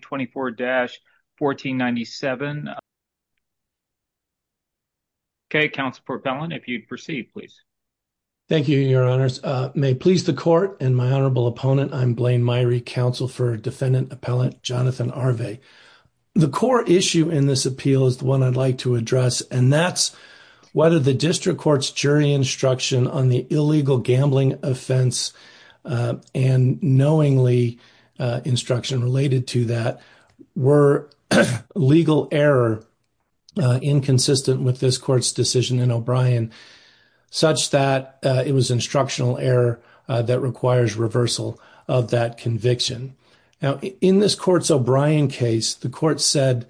24-1497. Okay, Councilor Portbellin, if you'd proceed, please. Thank you, Your Honors. May it please the Court and my Honorable Opponent, I'm Blaine Myrie, Counsel for Defendant Appellant Jonathan Arvay. The core issue in this appeal is the one I'd like to address, and that's whether the District Court's jury instruction on the illegal gambling offense and knowingly instruction related to that were legal error inconsistent with this Court's decision in O'Brien such that it was instructional error that requires reversal of that conviction. Now, in this Court's O'Brien case, the Court said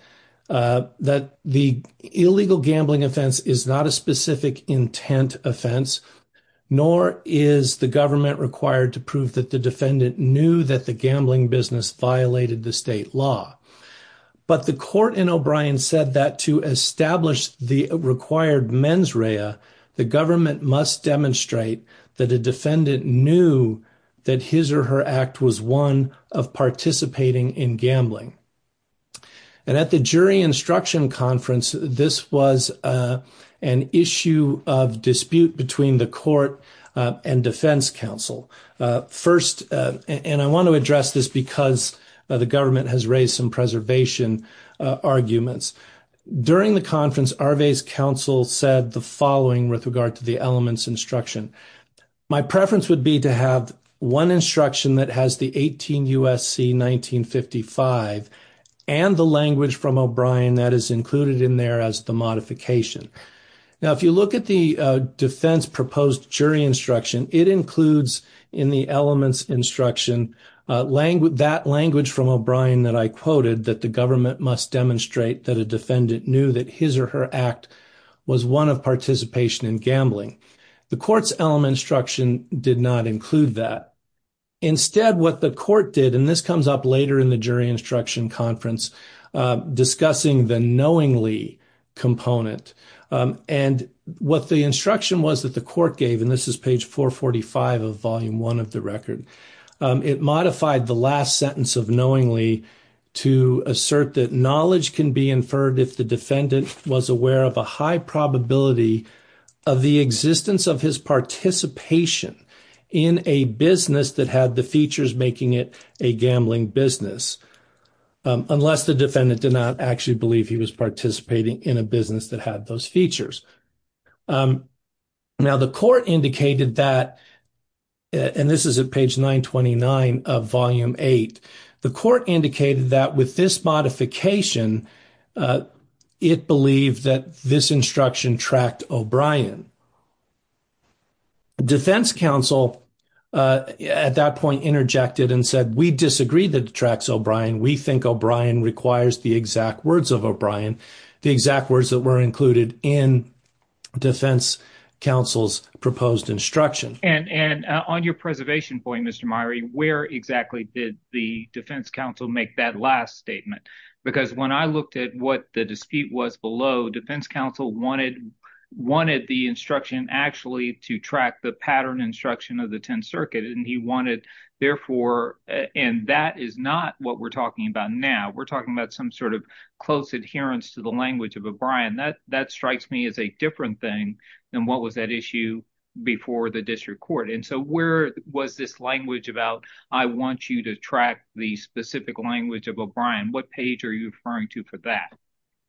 that the illegal gambling offense is not a specific offense, and that the gambling business violated the state law. But the Court in O'Brien said that to establish the required mens rea, the government must demonstrate that a defendant knew that his or her act was one of participating in gambling. And at the jury instruction conference, this was an issue of dispute between the Court and Defense Council. First, and I want to address this because the government has raised some preservation arguments. During the conference, Arvay's counsel said the following with regard to the elements instruction. My preference would be to have one instruction that has the 18 U.S.C. 1955 and the language from O'Brien that is included in there as the modification. Now, if you look at the defense proposed jury instruction, it includes in the elements instruction that language from O'Brien that I quoted, that the government must demonstrate that a defendant knew that his or her act was one of participation in gambling. The Court's element instruction did not include that. Instead, what the Court did, and this comes up later in the jury instruction conference, discussing the knowingly component. And what the instruction was that the Court gave, and this is page 445 of volume one of the record, it modified the last sentence of knowingly to assert that knowledge can be inferred if the defendant was aware of a high probability of the existence of his participation in a business that had the features making it a gambling business, unless the defendant did not actually believe he was participating in a business that had those features. Now, the Court indicated that, and this is at page 929 of volume eight, the Court indicated that with this modification, it believed that this instruction tracked O'Brien. Defense counsel at that point interjected and said, we disagree that it tracks O'Brien. We think O'Brien requires the exact words of O'Brien, the exact words that were included in defense counsel's proposed instruction. And on your preservation point, Mr. Meyrie, where exactly did the defense counsel make that last statement? Because when I looked at what the dispute was below, defense counsel wanted the instruction actually to track the pattern instruction of the Tenth Circuit, and he wanted, therefore, and that is not what we're talking about now. We're talking about some sort of close adherence to the language of O'Brien. That strikes me as a different thing than what was at issue before the district court. And so where was this language about, I want you to track the specific language of O'Brien, what page are you referring to for that?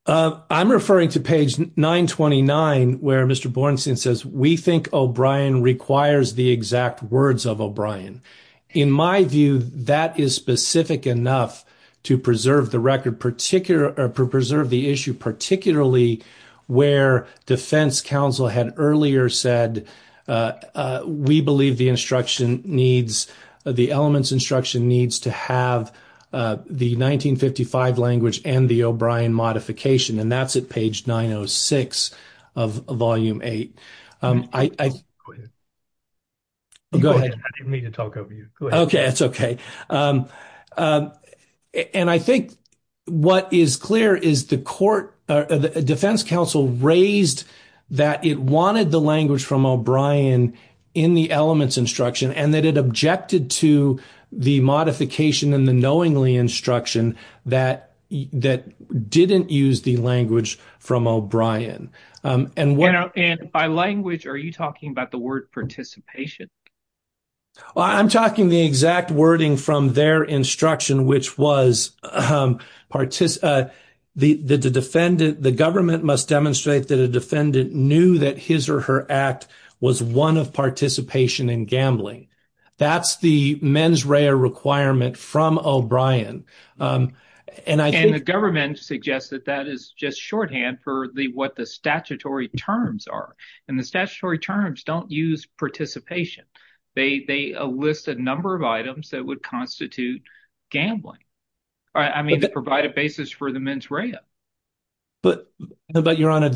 I'm referring to page 929, where Mr. Bornstein says, we think O'Brien requires the exact words of O'Brien. In my view, that is specific enough to preserve the record, particular, to preserve the issue, particularly where defense counsel had earlier said, we believe the instruction needs, the elements instruction needs to have the 1955 language and the O'Brien modification, and that's at page 906 of volume 8. Go ahead. I didn't mean to talk over you. Okay, that's okay. And I think what is clear is the court, the defense counsel raised that it wanted the language from O'Brien in the elements instruction, and that it objected to the modification and the knowingly instruction that didn't use the language from O'Brien. And by language, are you talking about the word participation? Well, I'm talking the exact wording from their instruction, which was the defendant, the government must demonstrate that a defendant knew that his or her act was one of participation in gambling. That's the mens rea requirement from O'Brien. And the government suggests that that is just shorthand for what the statutory terms are, and the statutory terms don't use participation. They list a number of items that would constitute gambling. I mean, they provide a basis for the mens rea. But Your Honor,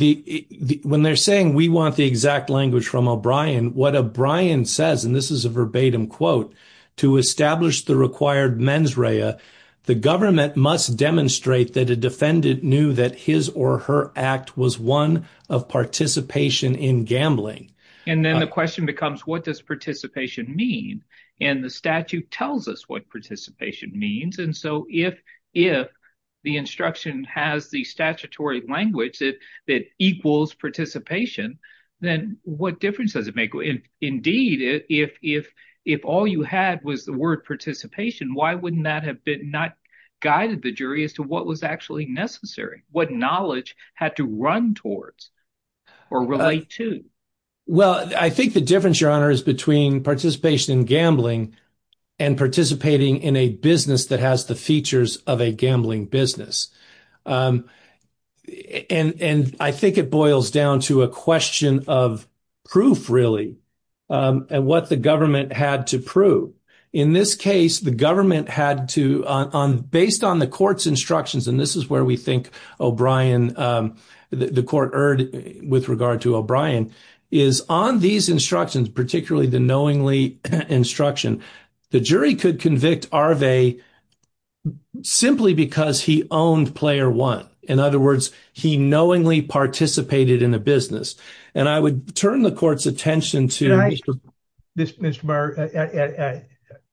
when they're saying we want the exact language from O'Brien, what O'Brien says, and this is a verbatim quote, to establish the required mens rea, the government must demonstrate that a defendant knew that his or her act was one of participation in gambling. And then the question becomes, what does participation mean? And the statute tells us what participation means. And so if the instruction has the statutory language that equals participation, then what difference does it make? Indeed, if all you had was the word participation, why wouldn't that have been not guided the jury as to what was actually necessary, what knowledge had to run towards or relate to? Well, I think the difference, Your Honor, is between participation in gambling and participating in a business that has the features of a gambling business. And I think it boils down to a question of proof, really, and what the government had to prove. In this case, the government had to, based on the court's instructions, and this is where we think O'Brien, the court erred with regard to O'Brien, is on these instructions, particularly the knowingly instruction, the jury could convict Arve simply because he owned player one. In other words, he knowingly participated in a business. And I would turn the court's attention to... Mr. Meyer,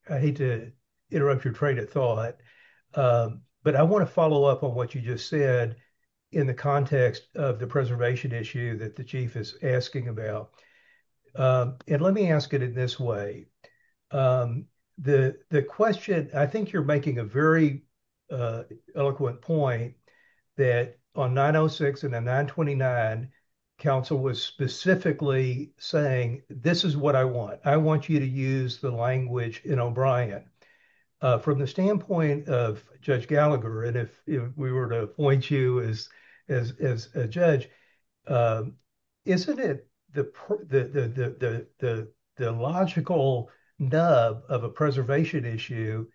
I hate to interrupt your train of thought, but I want to follow up on what you just said in the context of the preservation issue that the chief is asking about. And let me ask it in this way. The question, I think you're making a very eloquent point that on 906 and on 929, counsel was specifically saying, this is what I want. I want you to use the language in O'Brien. From the standpoint of Judge Gallagher, and if we were to appoint you as a judge, isn't it the logical nub of a preservation issue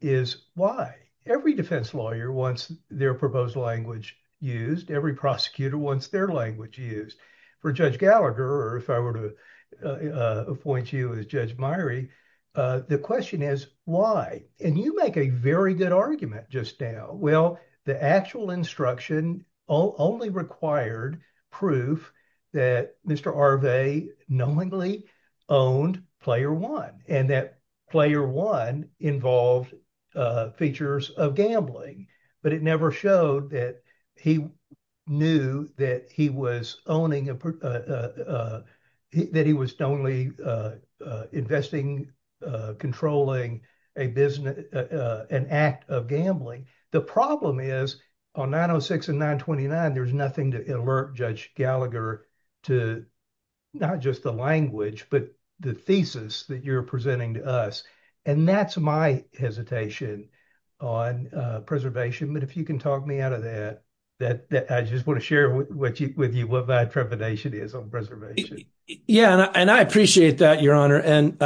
is why? Every defense lawyer wants their proposed language used. Every prosecutor wants their language used. For Judge Gallagher, or if I were to appoint you as Judge Meyer, the question is why? And you make a very good argument just now. Well, the actual instruction only required proof that Mr. Arve knowingly owned player one, and that player one involved features of gambling. But it never showed that he knew that he was only investing, controlling an act of gambling. The problem is on 906 and 929, there's nothing to alert Judge Gallagher to not just the language, but the thesis that you're presenting to us. And that's my hesitation on preservation. But if you can talk me out of that, I just want to share with you what my trepidation is on preservation. Yeah, and I appreciate that, Your Honor. And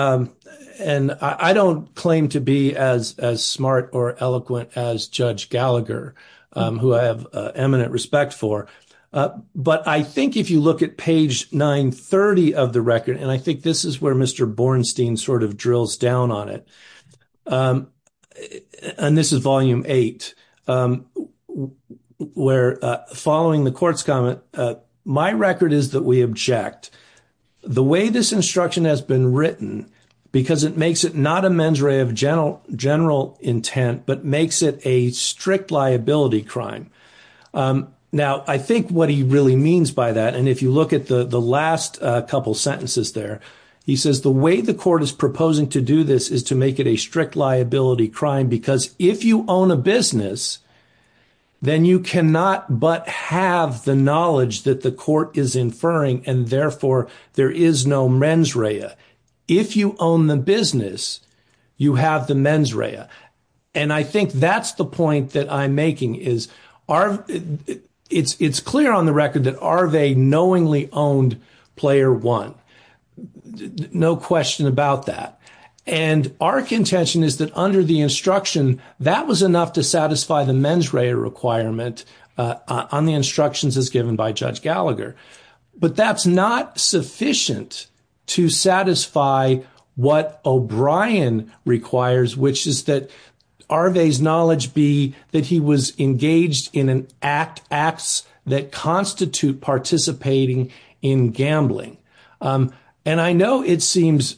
I don't claim to be as smart or eloquent as Judge Gallagher, who I have eminent respect for. But I think if you look at page 930 of the record, and I think this is where Mr. Bornstein sort of drills down on it, and this is volume eight, where following the court's comment, my record is that we object. The way this instruction has written, because it makes it not a mens rea of general intent, but makes it a strict liability crime. Now, I think what he really means by that, and if you look at the last couple sentences there, he says the way the court is proposing to do this is to make it a strict liability crime, because if you own a business, then you cannot but have the knowledge that the court is inferring, and therefore there is no mens rea. If you own the business, you have the mens rea. And I think that's the point that I'm making, is it's clear on the record that Areve knowingly owned Player One. No question about that. And our contention is that under the instruction, that was enough to satisfy the mens rea requirement on the instructions as given by Judge Gallagher. But that's not sufficient to satisfy what O'Brien requires, which is that Areve's knowledge be that he was engaged in acts that constitute participating in gambling. And I know it seems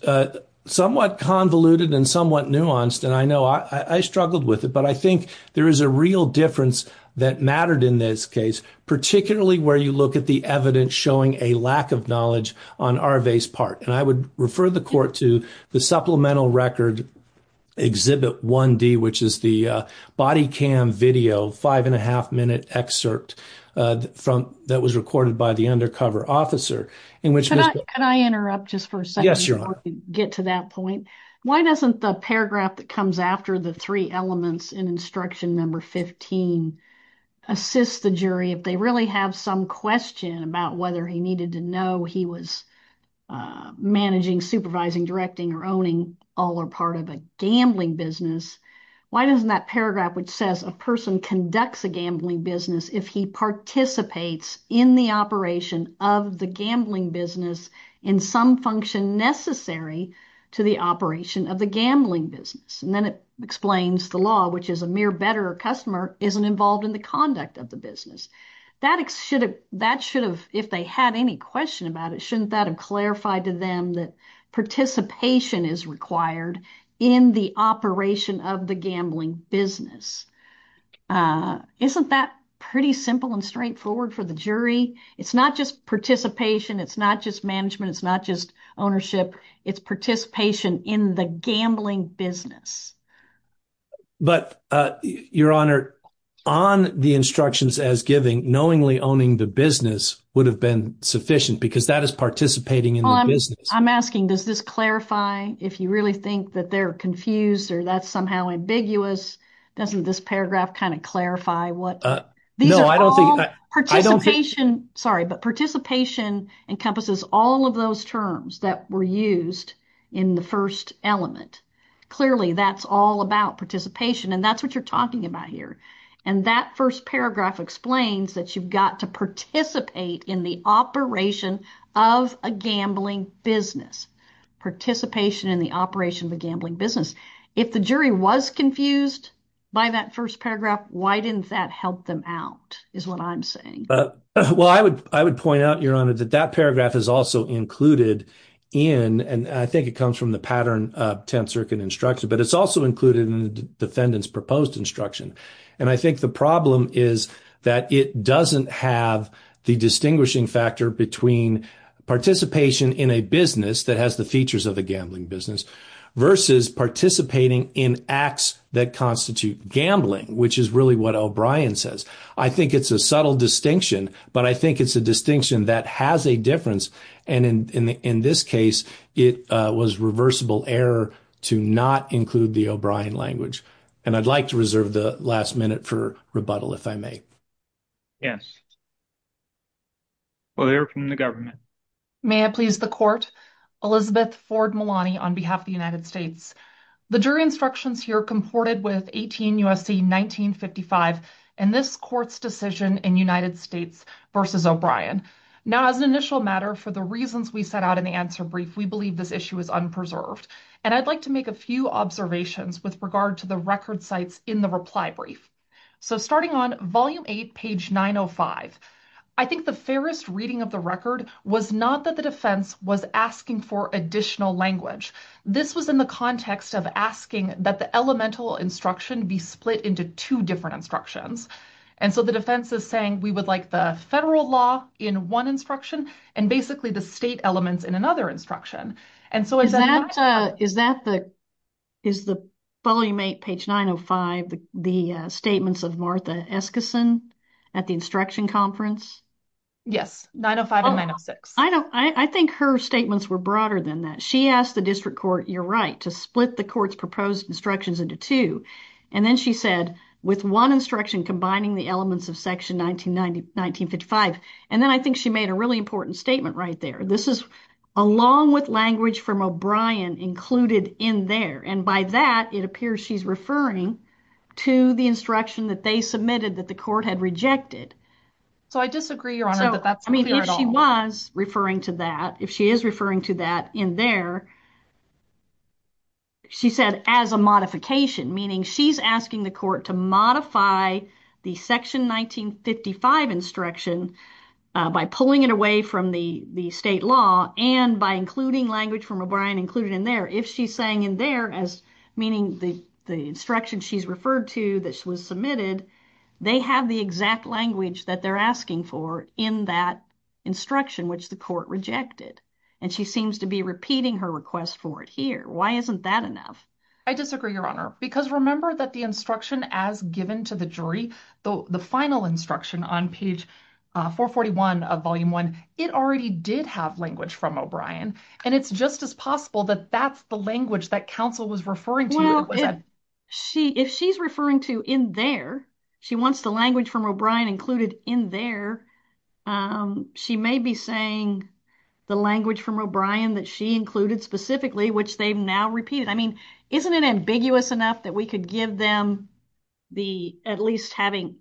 somewhat convoluted and somewhat nuanced, and I know I struggled with it, but I think there is a real difference that mattered in this case, particularly where you look at the evidence showing a lack of knowledge on Areve's part. And I would refer the court to the Supplemental Record Exhibit 1D, which is the body cam video, five and a half minute excerpt that was recorded by the undercover officer. Can I interrupt just for a second before we get to that point? Why doesn't the paragraph that comes after the three elements in instruction number 15 assist the jury if they really have some question about whether he needed to know he was managing, supervising, directing, or owning all or part of a gambling business? Why doesn't that paragraph which says a person conducts a gambling business if he participates in the operation of the gambling business in some function necessary to the operation of the gambling business? And then it explains the law, which is a mere better customer isn't involved in the conduct of the business. That should have, if they had any question about it, shouldn't that have clarified to them that participation is required in the operation of the gambling business? Isn't that pretty simple and straightforward for the jury? It's not just participation. It's not just management. It's not just ownership. It's participation in the gambling business. But Your Honor, on the instructions as given, knowingly owning the business would have been sufficient because that is participating in the business. I'm asking, does this clarify if you really think that they're confused or that's somehow ambiguous? Doesn't this paragraph kind of clarify what? No, I don't think. Sorry, but participation encompasses all of those terms that were used in the first element. Clearly, that's all about participation and that's what you're talking about here. And that first paragraph explains that you've got to participate in the operation of a gambling business. Participation in the operation of a gambling business. If the jury was confused by that first paragraph, why didn't that help them out is what I'm saying. Well, I would point out, Your Honor, that that paragraph is also included in, and I think it comes from the pattern of Tenth Circuit instruction, but it's also included in the defendant's proposed instruction. And I think the problem is that it doesn't have the distinguishing factor between participation in a business that has the features of a gambling business versus participating in acts that constitute gambling, which is really what O'Brien says. I think it's a subtle distinction, but I think it's a distinction that has a difference. And in this case, it was reversible error to not include the O'Brien language. And I'd like to reserve the last minute for rebuttal, if I may. Yes. Well, they're from the government. May I please the court? Elizabeth Ford Malani on behalf of the United States. The jury instructions here comported with 18 U.S.C. 1955 and this court's decision in United States versus O'Brien. Now, as an initial matter, for the reasons we set out in the answer brief, we believe this issue is unpreserved. And I'd like to make a few observations with regard to the record sites in the reply brief. So starting on volume eight, page 905, I think the fairest reading of the record was not that the defense was asking for additional language. This was in the context of asking that the elemental instruction be split into two different instructions. And so the defense is saying we would like the federal law in one instruction and basically the state elements in another instruction. And so is that is that the is the volume eight, page 905, the statements of Martha Eskison at the instruction conference? Yes. 905 and 906. I don't I think her statements were broader than that. She asked the district court. You're right to split the court's proposed instructions into two. And then she said with one instruction, combining the elements of section 1990, 1955. And then I think she made a really important statement right there. This is along with language from O'Brien included in there. And by that, it appears she's referring to the instruction that they submitted that the court had rejected. So I disagree, your honor, that that's I mean, if she was referring to that, if she is referring to that in there. She said as a modification, meaning she's asking the court to modify the section 1955 instruction by pulling it away from the the state law and by including language from O'Brien included in there, if she's saying in there as meaning the the instruction she's referred to that was submitted, they have the exact language that they're asking for in that instruction, which the court rejected. And she seems to be repeating her request for it here. Why isn't that enough? I disagree, your honor, because remember that the instruction as given to the jury, the final instruction on page 441 of volume one, it already did have language from O'Brien. And it's just as possible that that's the language that counsel was referring to. She if she's referring to in there, she wants the language from O'Brien included in there. She may be saying the language from O'Brien that she included specifically, which they've now repeated. I mean, isn't it ambiguous enough that we could give them the at least having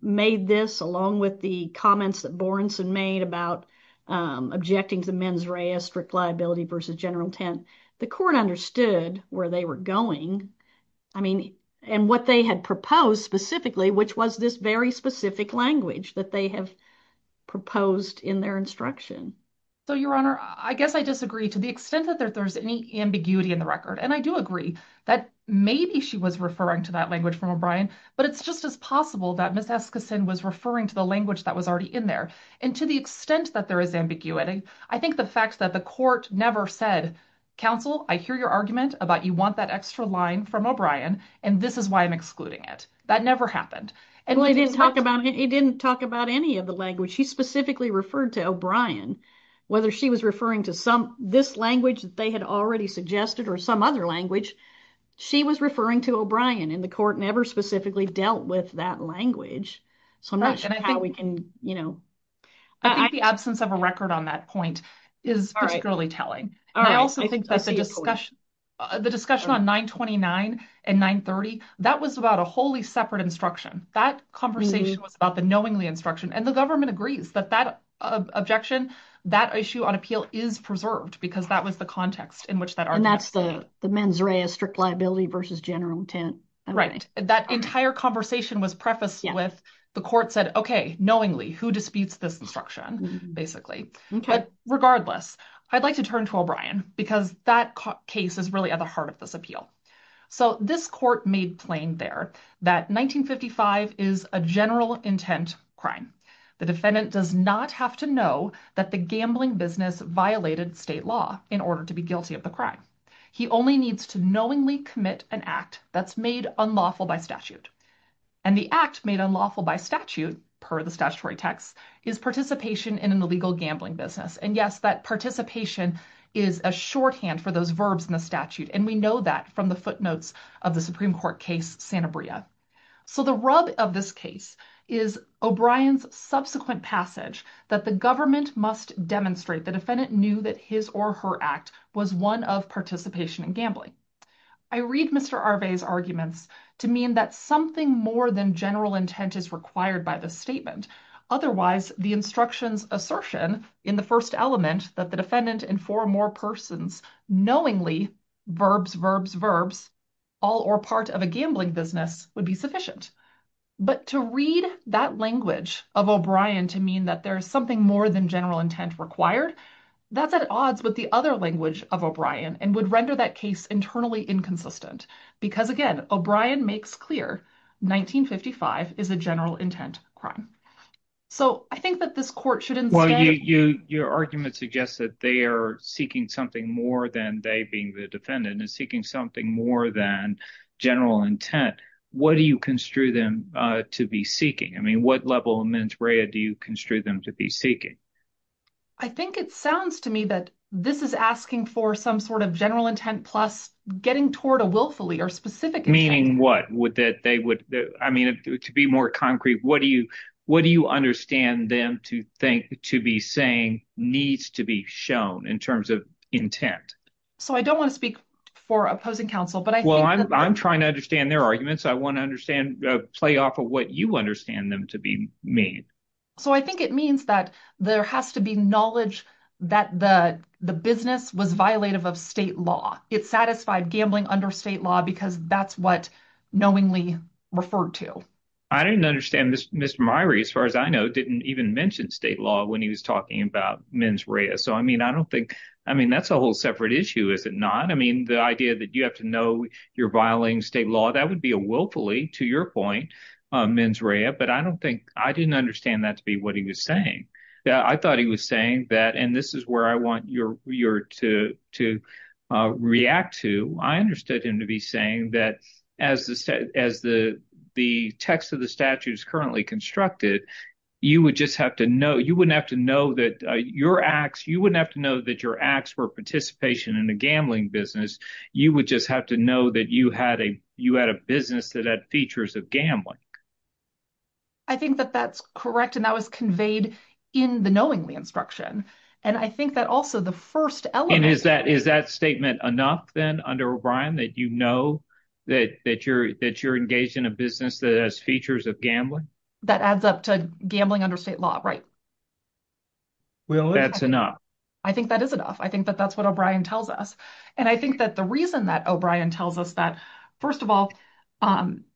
made this along with the comments that Borenson made about objecting to mens rea, strict liability versus general tent. The court understood where they were going. I mean, and what they had proposed specifically, which was this very specific language that they have proposed in their instruction. So, your honor, I guess I disagree to the extent that there's any ambiguity in the record. And I do agree that maybe she was referring to that language from O'Brien, but it's just as possible that Miss Eskison was referring to the language that was already in there. And to the extent that there is ambiguity, I think the fact that the court never said, counsel, I hear your argument about you want that extra line from O'Brien, and this is why I'm excluding it. That never happened. And it didn't talk about any of the language. She specifically referred to O'Brien, whether she was referring to this language that they had already suggested or some other language. She was referring to O'Brien and the court never specifically dealt with that language. So, I'm not sure how we can, you know. I think the absence of a record on that point is particularly telling. I also think that the discussion on 929 and 930, that was about a wholly separate instruction. That conversation was about the knowingly instruction. And the government agrees that that objection, that issue on appeal is preserved because that was the context in which that argument was made. And that's the mens rea, strict liability versus general intent. Right. That entire conversation was prefaced with the court said, okay, knowingly, who disputes this basically. But regardless, I'd like to turn to O'Brien because that case is really at the heart of this appeal. So, this court made plain there that 1955 is a general intent crime. The defendant does not have to know that the gambling business violated state law in order to be guilty of the crime. He only needs to knowingly commit an act that's made unlawful by statute. And the act made unlawful by statute per the statutory text is participation in an illegal gambling business. And yes, that participation is a shorthand for those verbs in the statute. And we know that from the footnotes of the Supreme Court case, Santa Bria. So, the rub of this case is O'Brien's subsequent passage that the government must demonstrate the defendant knew that his or her act was one of participation in gambling. I read Mr. Arve's arguments to mean that something more than general intent is required by the statement. Otherwise, the instructions assertion in the first element that the defendant and four more persons knowingly, verbs, verbs, verbs, all or part of a gambling business would be sufficient. But to read that language of O'Brien to mean that there's something more than general intent required, that's at odds with the other language of O'Brien and would render that case internally inconsistent. Because again, O'Brien makes clear 1955 is a general intent crime. So, I think that this court should instead... Well, your argument suggests that they are seeking something more than they being the defendant and seeking something more than general intent. What do you construe them to be seeking? I mean, what level of mens rea do you construe them to be seeking? I think it sounds to me that this is asking for some sort of general intent plus getting toward a willfully or specific... Meaning what? Would that they would, I mean, to be more concrete, what do you, what do you understand them to think to be saying needs to be shown in terms of intent? So, I don't want to speak for opposing counsel, but I think... Well, I'm trying to understand their arguments. I want to understand, play off of what you understand them to be made. So, I think it means that there has to be knowledge that the business was violative of state law. It satisfied gambling under state law because that's what knowingly referred to. I didn't understand Mr. Myrie, as far as I know, didn't even mention state law when he was talking about mens rea. So, I mean, I don't think, I mean, that's a whole separate issue, is it not? I mean, the idea that you have to know you're violating state law, that would be a willfully, to your point, mens rea, but I don't think, I didn't understand that to be what he was saying. I thought he was saying that, and this is where I want you to react to. I understood him to be saying that as the text of the statute is currently constructed, you would just have to know, you wouldn't have to know that your acts, you wouldn't have to know that your acts were participation in a gambling business. You would just have to know that you had a business that had features of gambling. I think that that's correct, and that was conveyed in the knowingly instruction, and I think that also the first element... And is that statement enough, then, under O'Brien, that you know that you're engaged in a business that has features of gambling? That adds up to gambling under state law, right? Well, that's enough. I think that is enough. I think that that's what O'Brien tells us, and I think that the reason that O'Brien tells us that, first of all,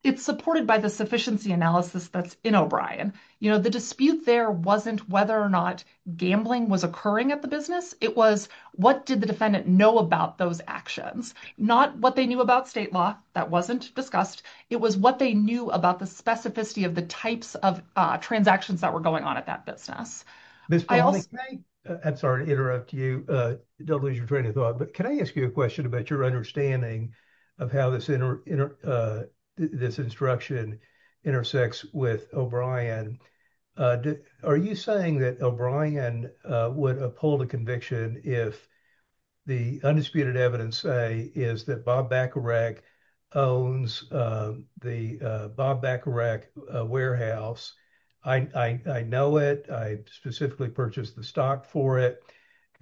it's supported by the sufficiency analysis that's in O'Brien. The dispute there wasn't whether or not gambling was occurring at the business. It was, what did the defendant know about those actions? Not what they knew about state law. That wasn't discussed. It was what they knew about the specificity of the types of transactions that were going on at that business. Ms. Pavley, I'm sorry to interrupt you. Don't lose your train of thought, but can I ask you a question about your understanding of how this instruction intersects with O'Brien? Are you saying that O'Brien would uphold a conviction if the undisputed evidence say that Bob Bacarach owns the Bob Bacarach Warehouse? I know it. I specifically purchased the stock for it.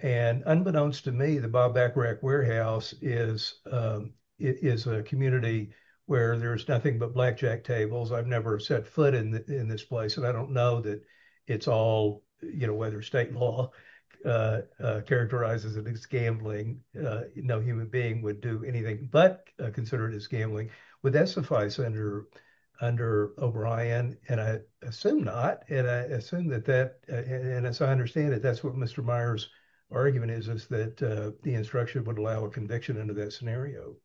Unbeknownst to me, the Bob Bacarach Warehouse is a community where there's nothing but blackjack tables. I've never set foot in this place, and I don't know whether state law characterizes it as gambling. No human being would do anything but consider it as gambling. Would that suffice under O'Brien? I assume not. I assume that that, and as I understand it, that's what Mr. Meyer's argument is, is that the instruction would allow a conviction under that scenario.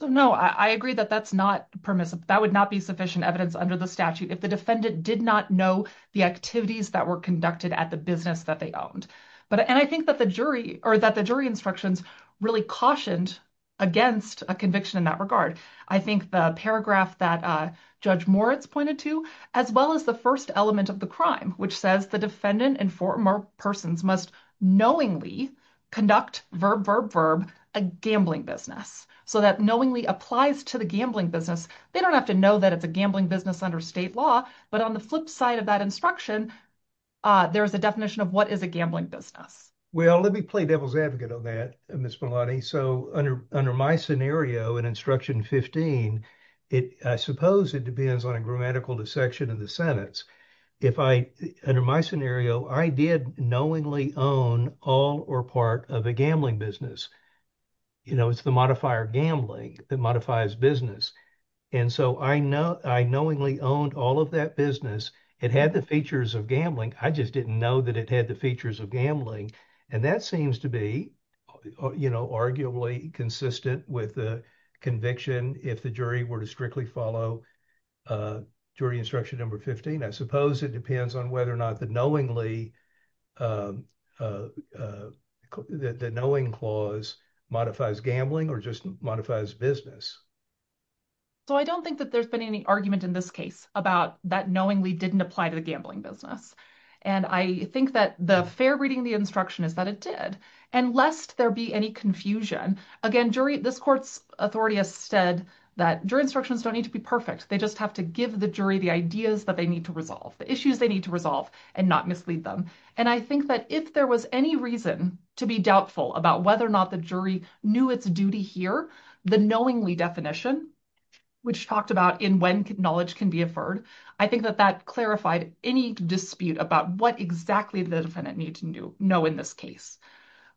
No, I agree that that's not permissive. That would not be sufficient evidence under the statute if the defendant did not know the activities that were conducted at the business that they owned. But, and I think that the jury, or that the jury instructions really cautioned against a conviction in that regard. I think the paragraph that Judge Moritz pointed to, as well as the first element of the crime, which says the defendant and former persons must knowingly conduct, verb, verb, verb, a gambling business. So that knowingly applies to the gambling business. They don't have to know that it's a gambling business under state law, but on the flip side of that instruction, there is a definition of what is a gambling business. Well, let me play devil's advocate on that, Ms. Malani. So under, under my scenario in instruction 15, it, I suppose it depends on a grammatical dissection of the sentence. If I, under my scenario, I did knowingly own all or part of a gambling business. You know, it's the modifier gambling that modifies business. And so I know, I knowingly owned all of that business. It had the features of gambling. I just didn't know that it had the features of gambling. And that seems to be, you know, arguably consistent with the conviction if the jury were to strictly follow jury instruction number 15. I suppose it depends on whether or not the knowingly, the knowing clause modifies gambling or just modifies business. So I don't think that there's been any argument in this case about that knowingly didn't apply to the gambling business. And I think that the fair reading of the instruction is that it did. And lest there be any confusion, again, jury, this court's authority has said that jury instructions don't need to be perfect. They just have to give the jury the ideas that they need to resolve, the issues they need to resolve and not mislead them. And I think that if there was any reason to be doubtful about whether or not the jury knew its duty here, the knowingly definition, which talked about in when knowledge can be inferred, I think that that clarified any dispute about what exactly the defendant need to know in this case.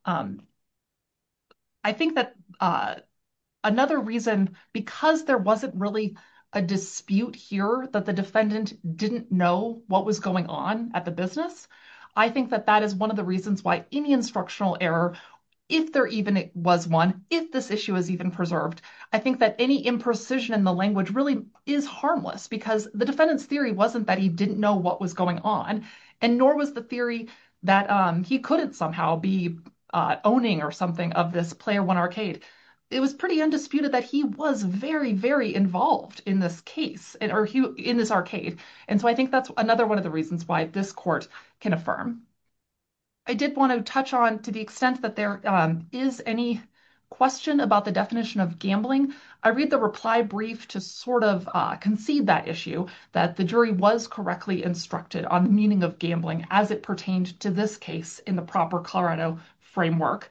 I think that another reason, because there wasn't really a dispute here that the defendant didn't know what was going on at the business. I think that that is one of the reasons why any instructional error, if there even was one, if this issue is even preserved, I think that any imprecision in the language really is harmless because the defendant's theory wasn't that he didn't know what was going on and nor was the theory that he couldn't somehow be owning or something of this player one arcade. It was pretty undisputed that he was very, very involved in this case or in this arcade. And so I think that's another one of the reasons why this court can affirm. I did want to touch on to the extent that there is any question about the definition of gambling. I read the reply brief to sort of concede that issue that the jury was correctly instructed on the meaning of gambling as it pertained to this case in the proper Colorado framework.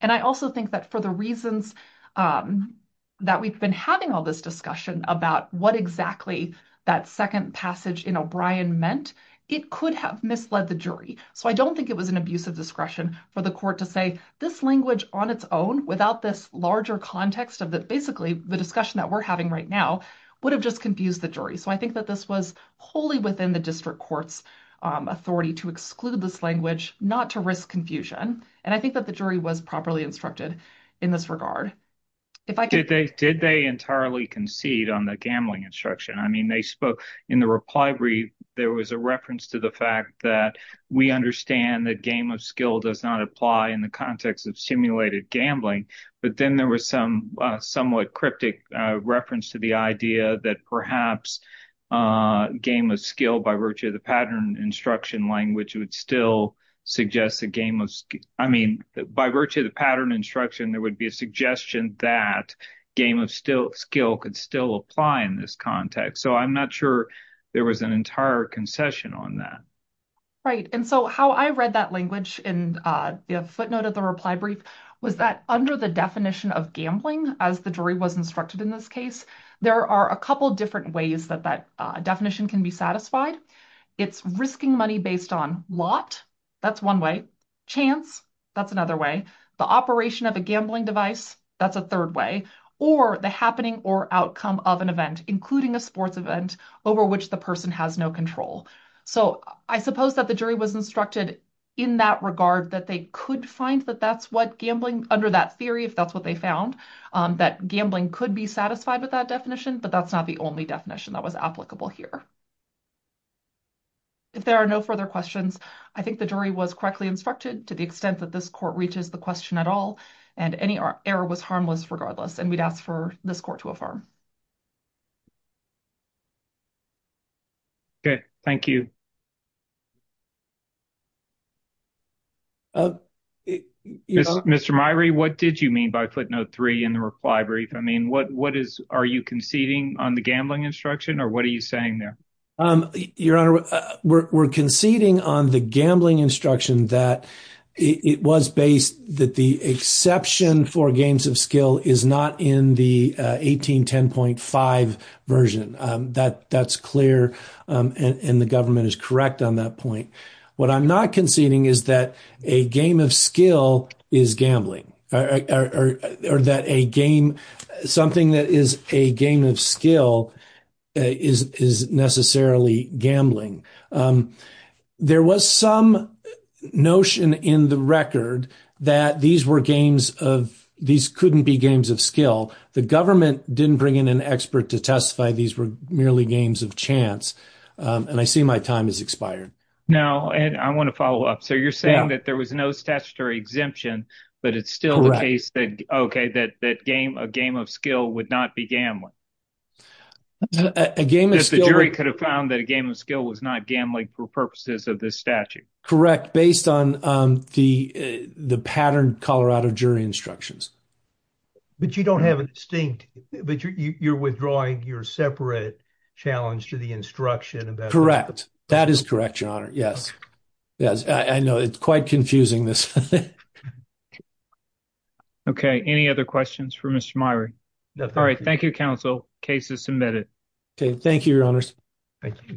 And I also think that for the reasons that we've been having all this discussion about what exactly that second passage in O'Brien meant, it could have misled the jury. So I don't think it was an abuse of discretion for the court to say this language on its own without this larger context of that basically the discussion that we're having right now would have just confused the jury. So I think that this was wholly within the district court's authority to exclude this language, not to risk confusion. And I think that the jury was properly instructed in this regard. Did they entirely concede on the gambling instruction? I mean they spoke in the reply brief there was a reference to the fact that we understand that game of skill does not apply in the context of simulated gambling. But then there was some somewhat cryptic reference to the idea that perhaps game of skill by virtue of the pattern instruction language would still suggest the game of skill. I mean by virtue of the pattern instruction there would be a suggestion that game of skill could still apply in this context. So I'm not sure there was an entire concession on that. Right and so how I read that language in the footnote of the reply brief was that under the definition of gambling as the jury was instructed in this case there are a couple different ways that that definition can be satisfied. It's risking money based on lot, that's one way. Chance, that's another way. The operation of a gambling device, that's a third way. Or the happening or outcome of an event including a sports event over which the person has no control. So I suppose that the jury was instructed in that regard that they could find that that's what gambling under that theory if that's what they found. That gambling could be satisfied with that definition but that's not the only definition that was applicable here. If there are no further questions I think the jury was correctly instructed to the extent that this court reaches the question at all and any error was harmless regardless and we'd ask for this court to affirm. Okay thank you. Mr. Myrie, what did you mean by footnote three in the reply brief? I mean what what is are you conceding on the gambling instruction or what are you saying there? Your honor, we're conceding on the gambling instruction that it was based that the exception for games of skill is not in the 1810.5 version. That's clear and the government is trying to make sure that that's not the case. Correct on that point. What I'm not conceding is that a game of skill is gambling or that a game something that is a game of skill is necessarily gambling. There was some notion in the record that these were games of these couldn't be games of skill. The government didn't bring in an expert to testify these were merely games of chance and I see my time has expired. Now and I want to follow up. So you're saying that there was no statutory exemption but it's still the case that okay that that game a game of skill would not be gambling. A game of skill could have found that a game of skill was not gambling for purposes of this statute. Correct based on the the patterned Colorado jury instructions. But you don't have an extinct but you're withdrawing your separate challenge to the instruction. Correct that is correct your honor yes yes I know it's quite confusing this. Okay any other questions for Mr. Myrie? No. All right thank you counsel case is submitted. Okay thank you your honors. Thank you.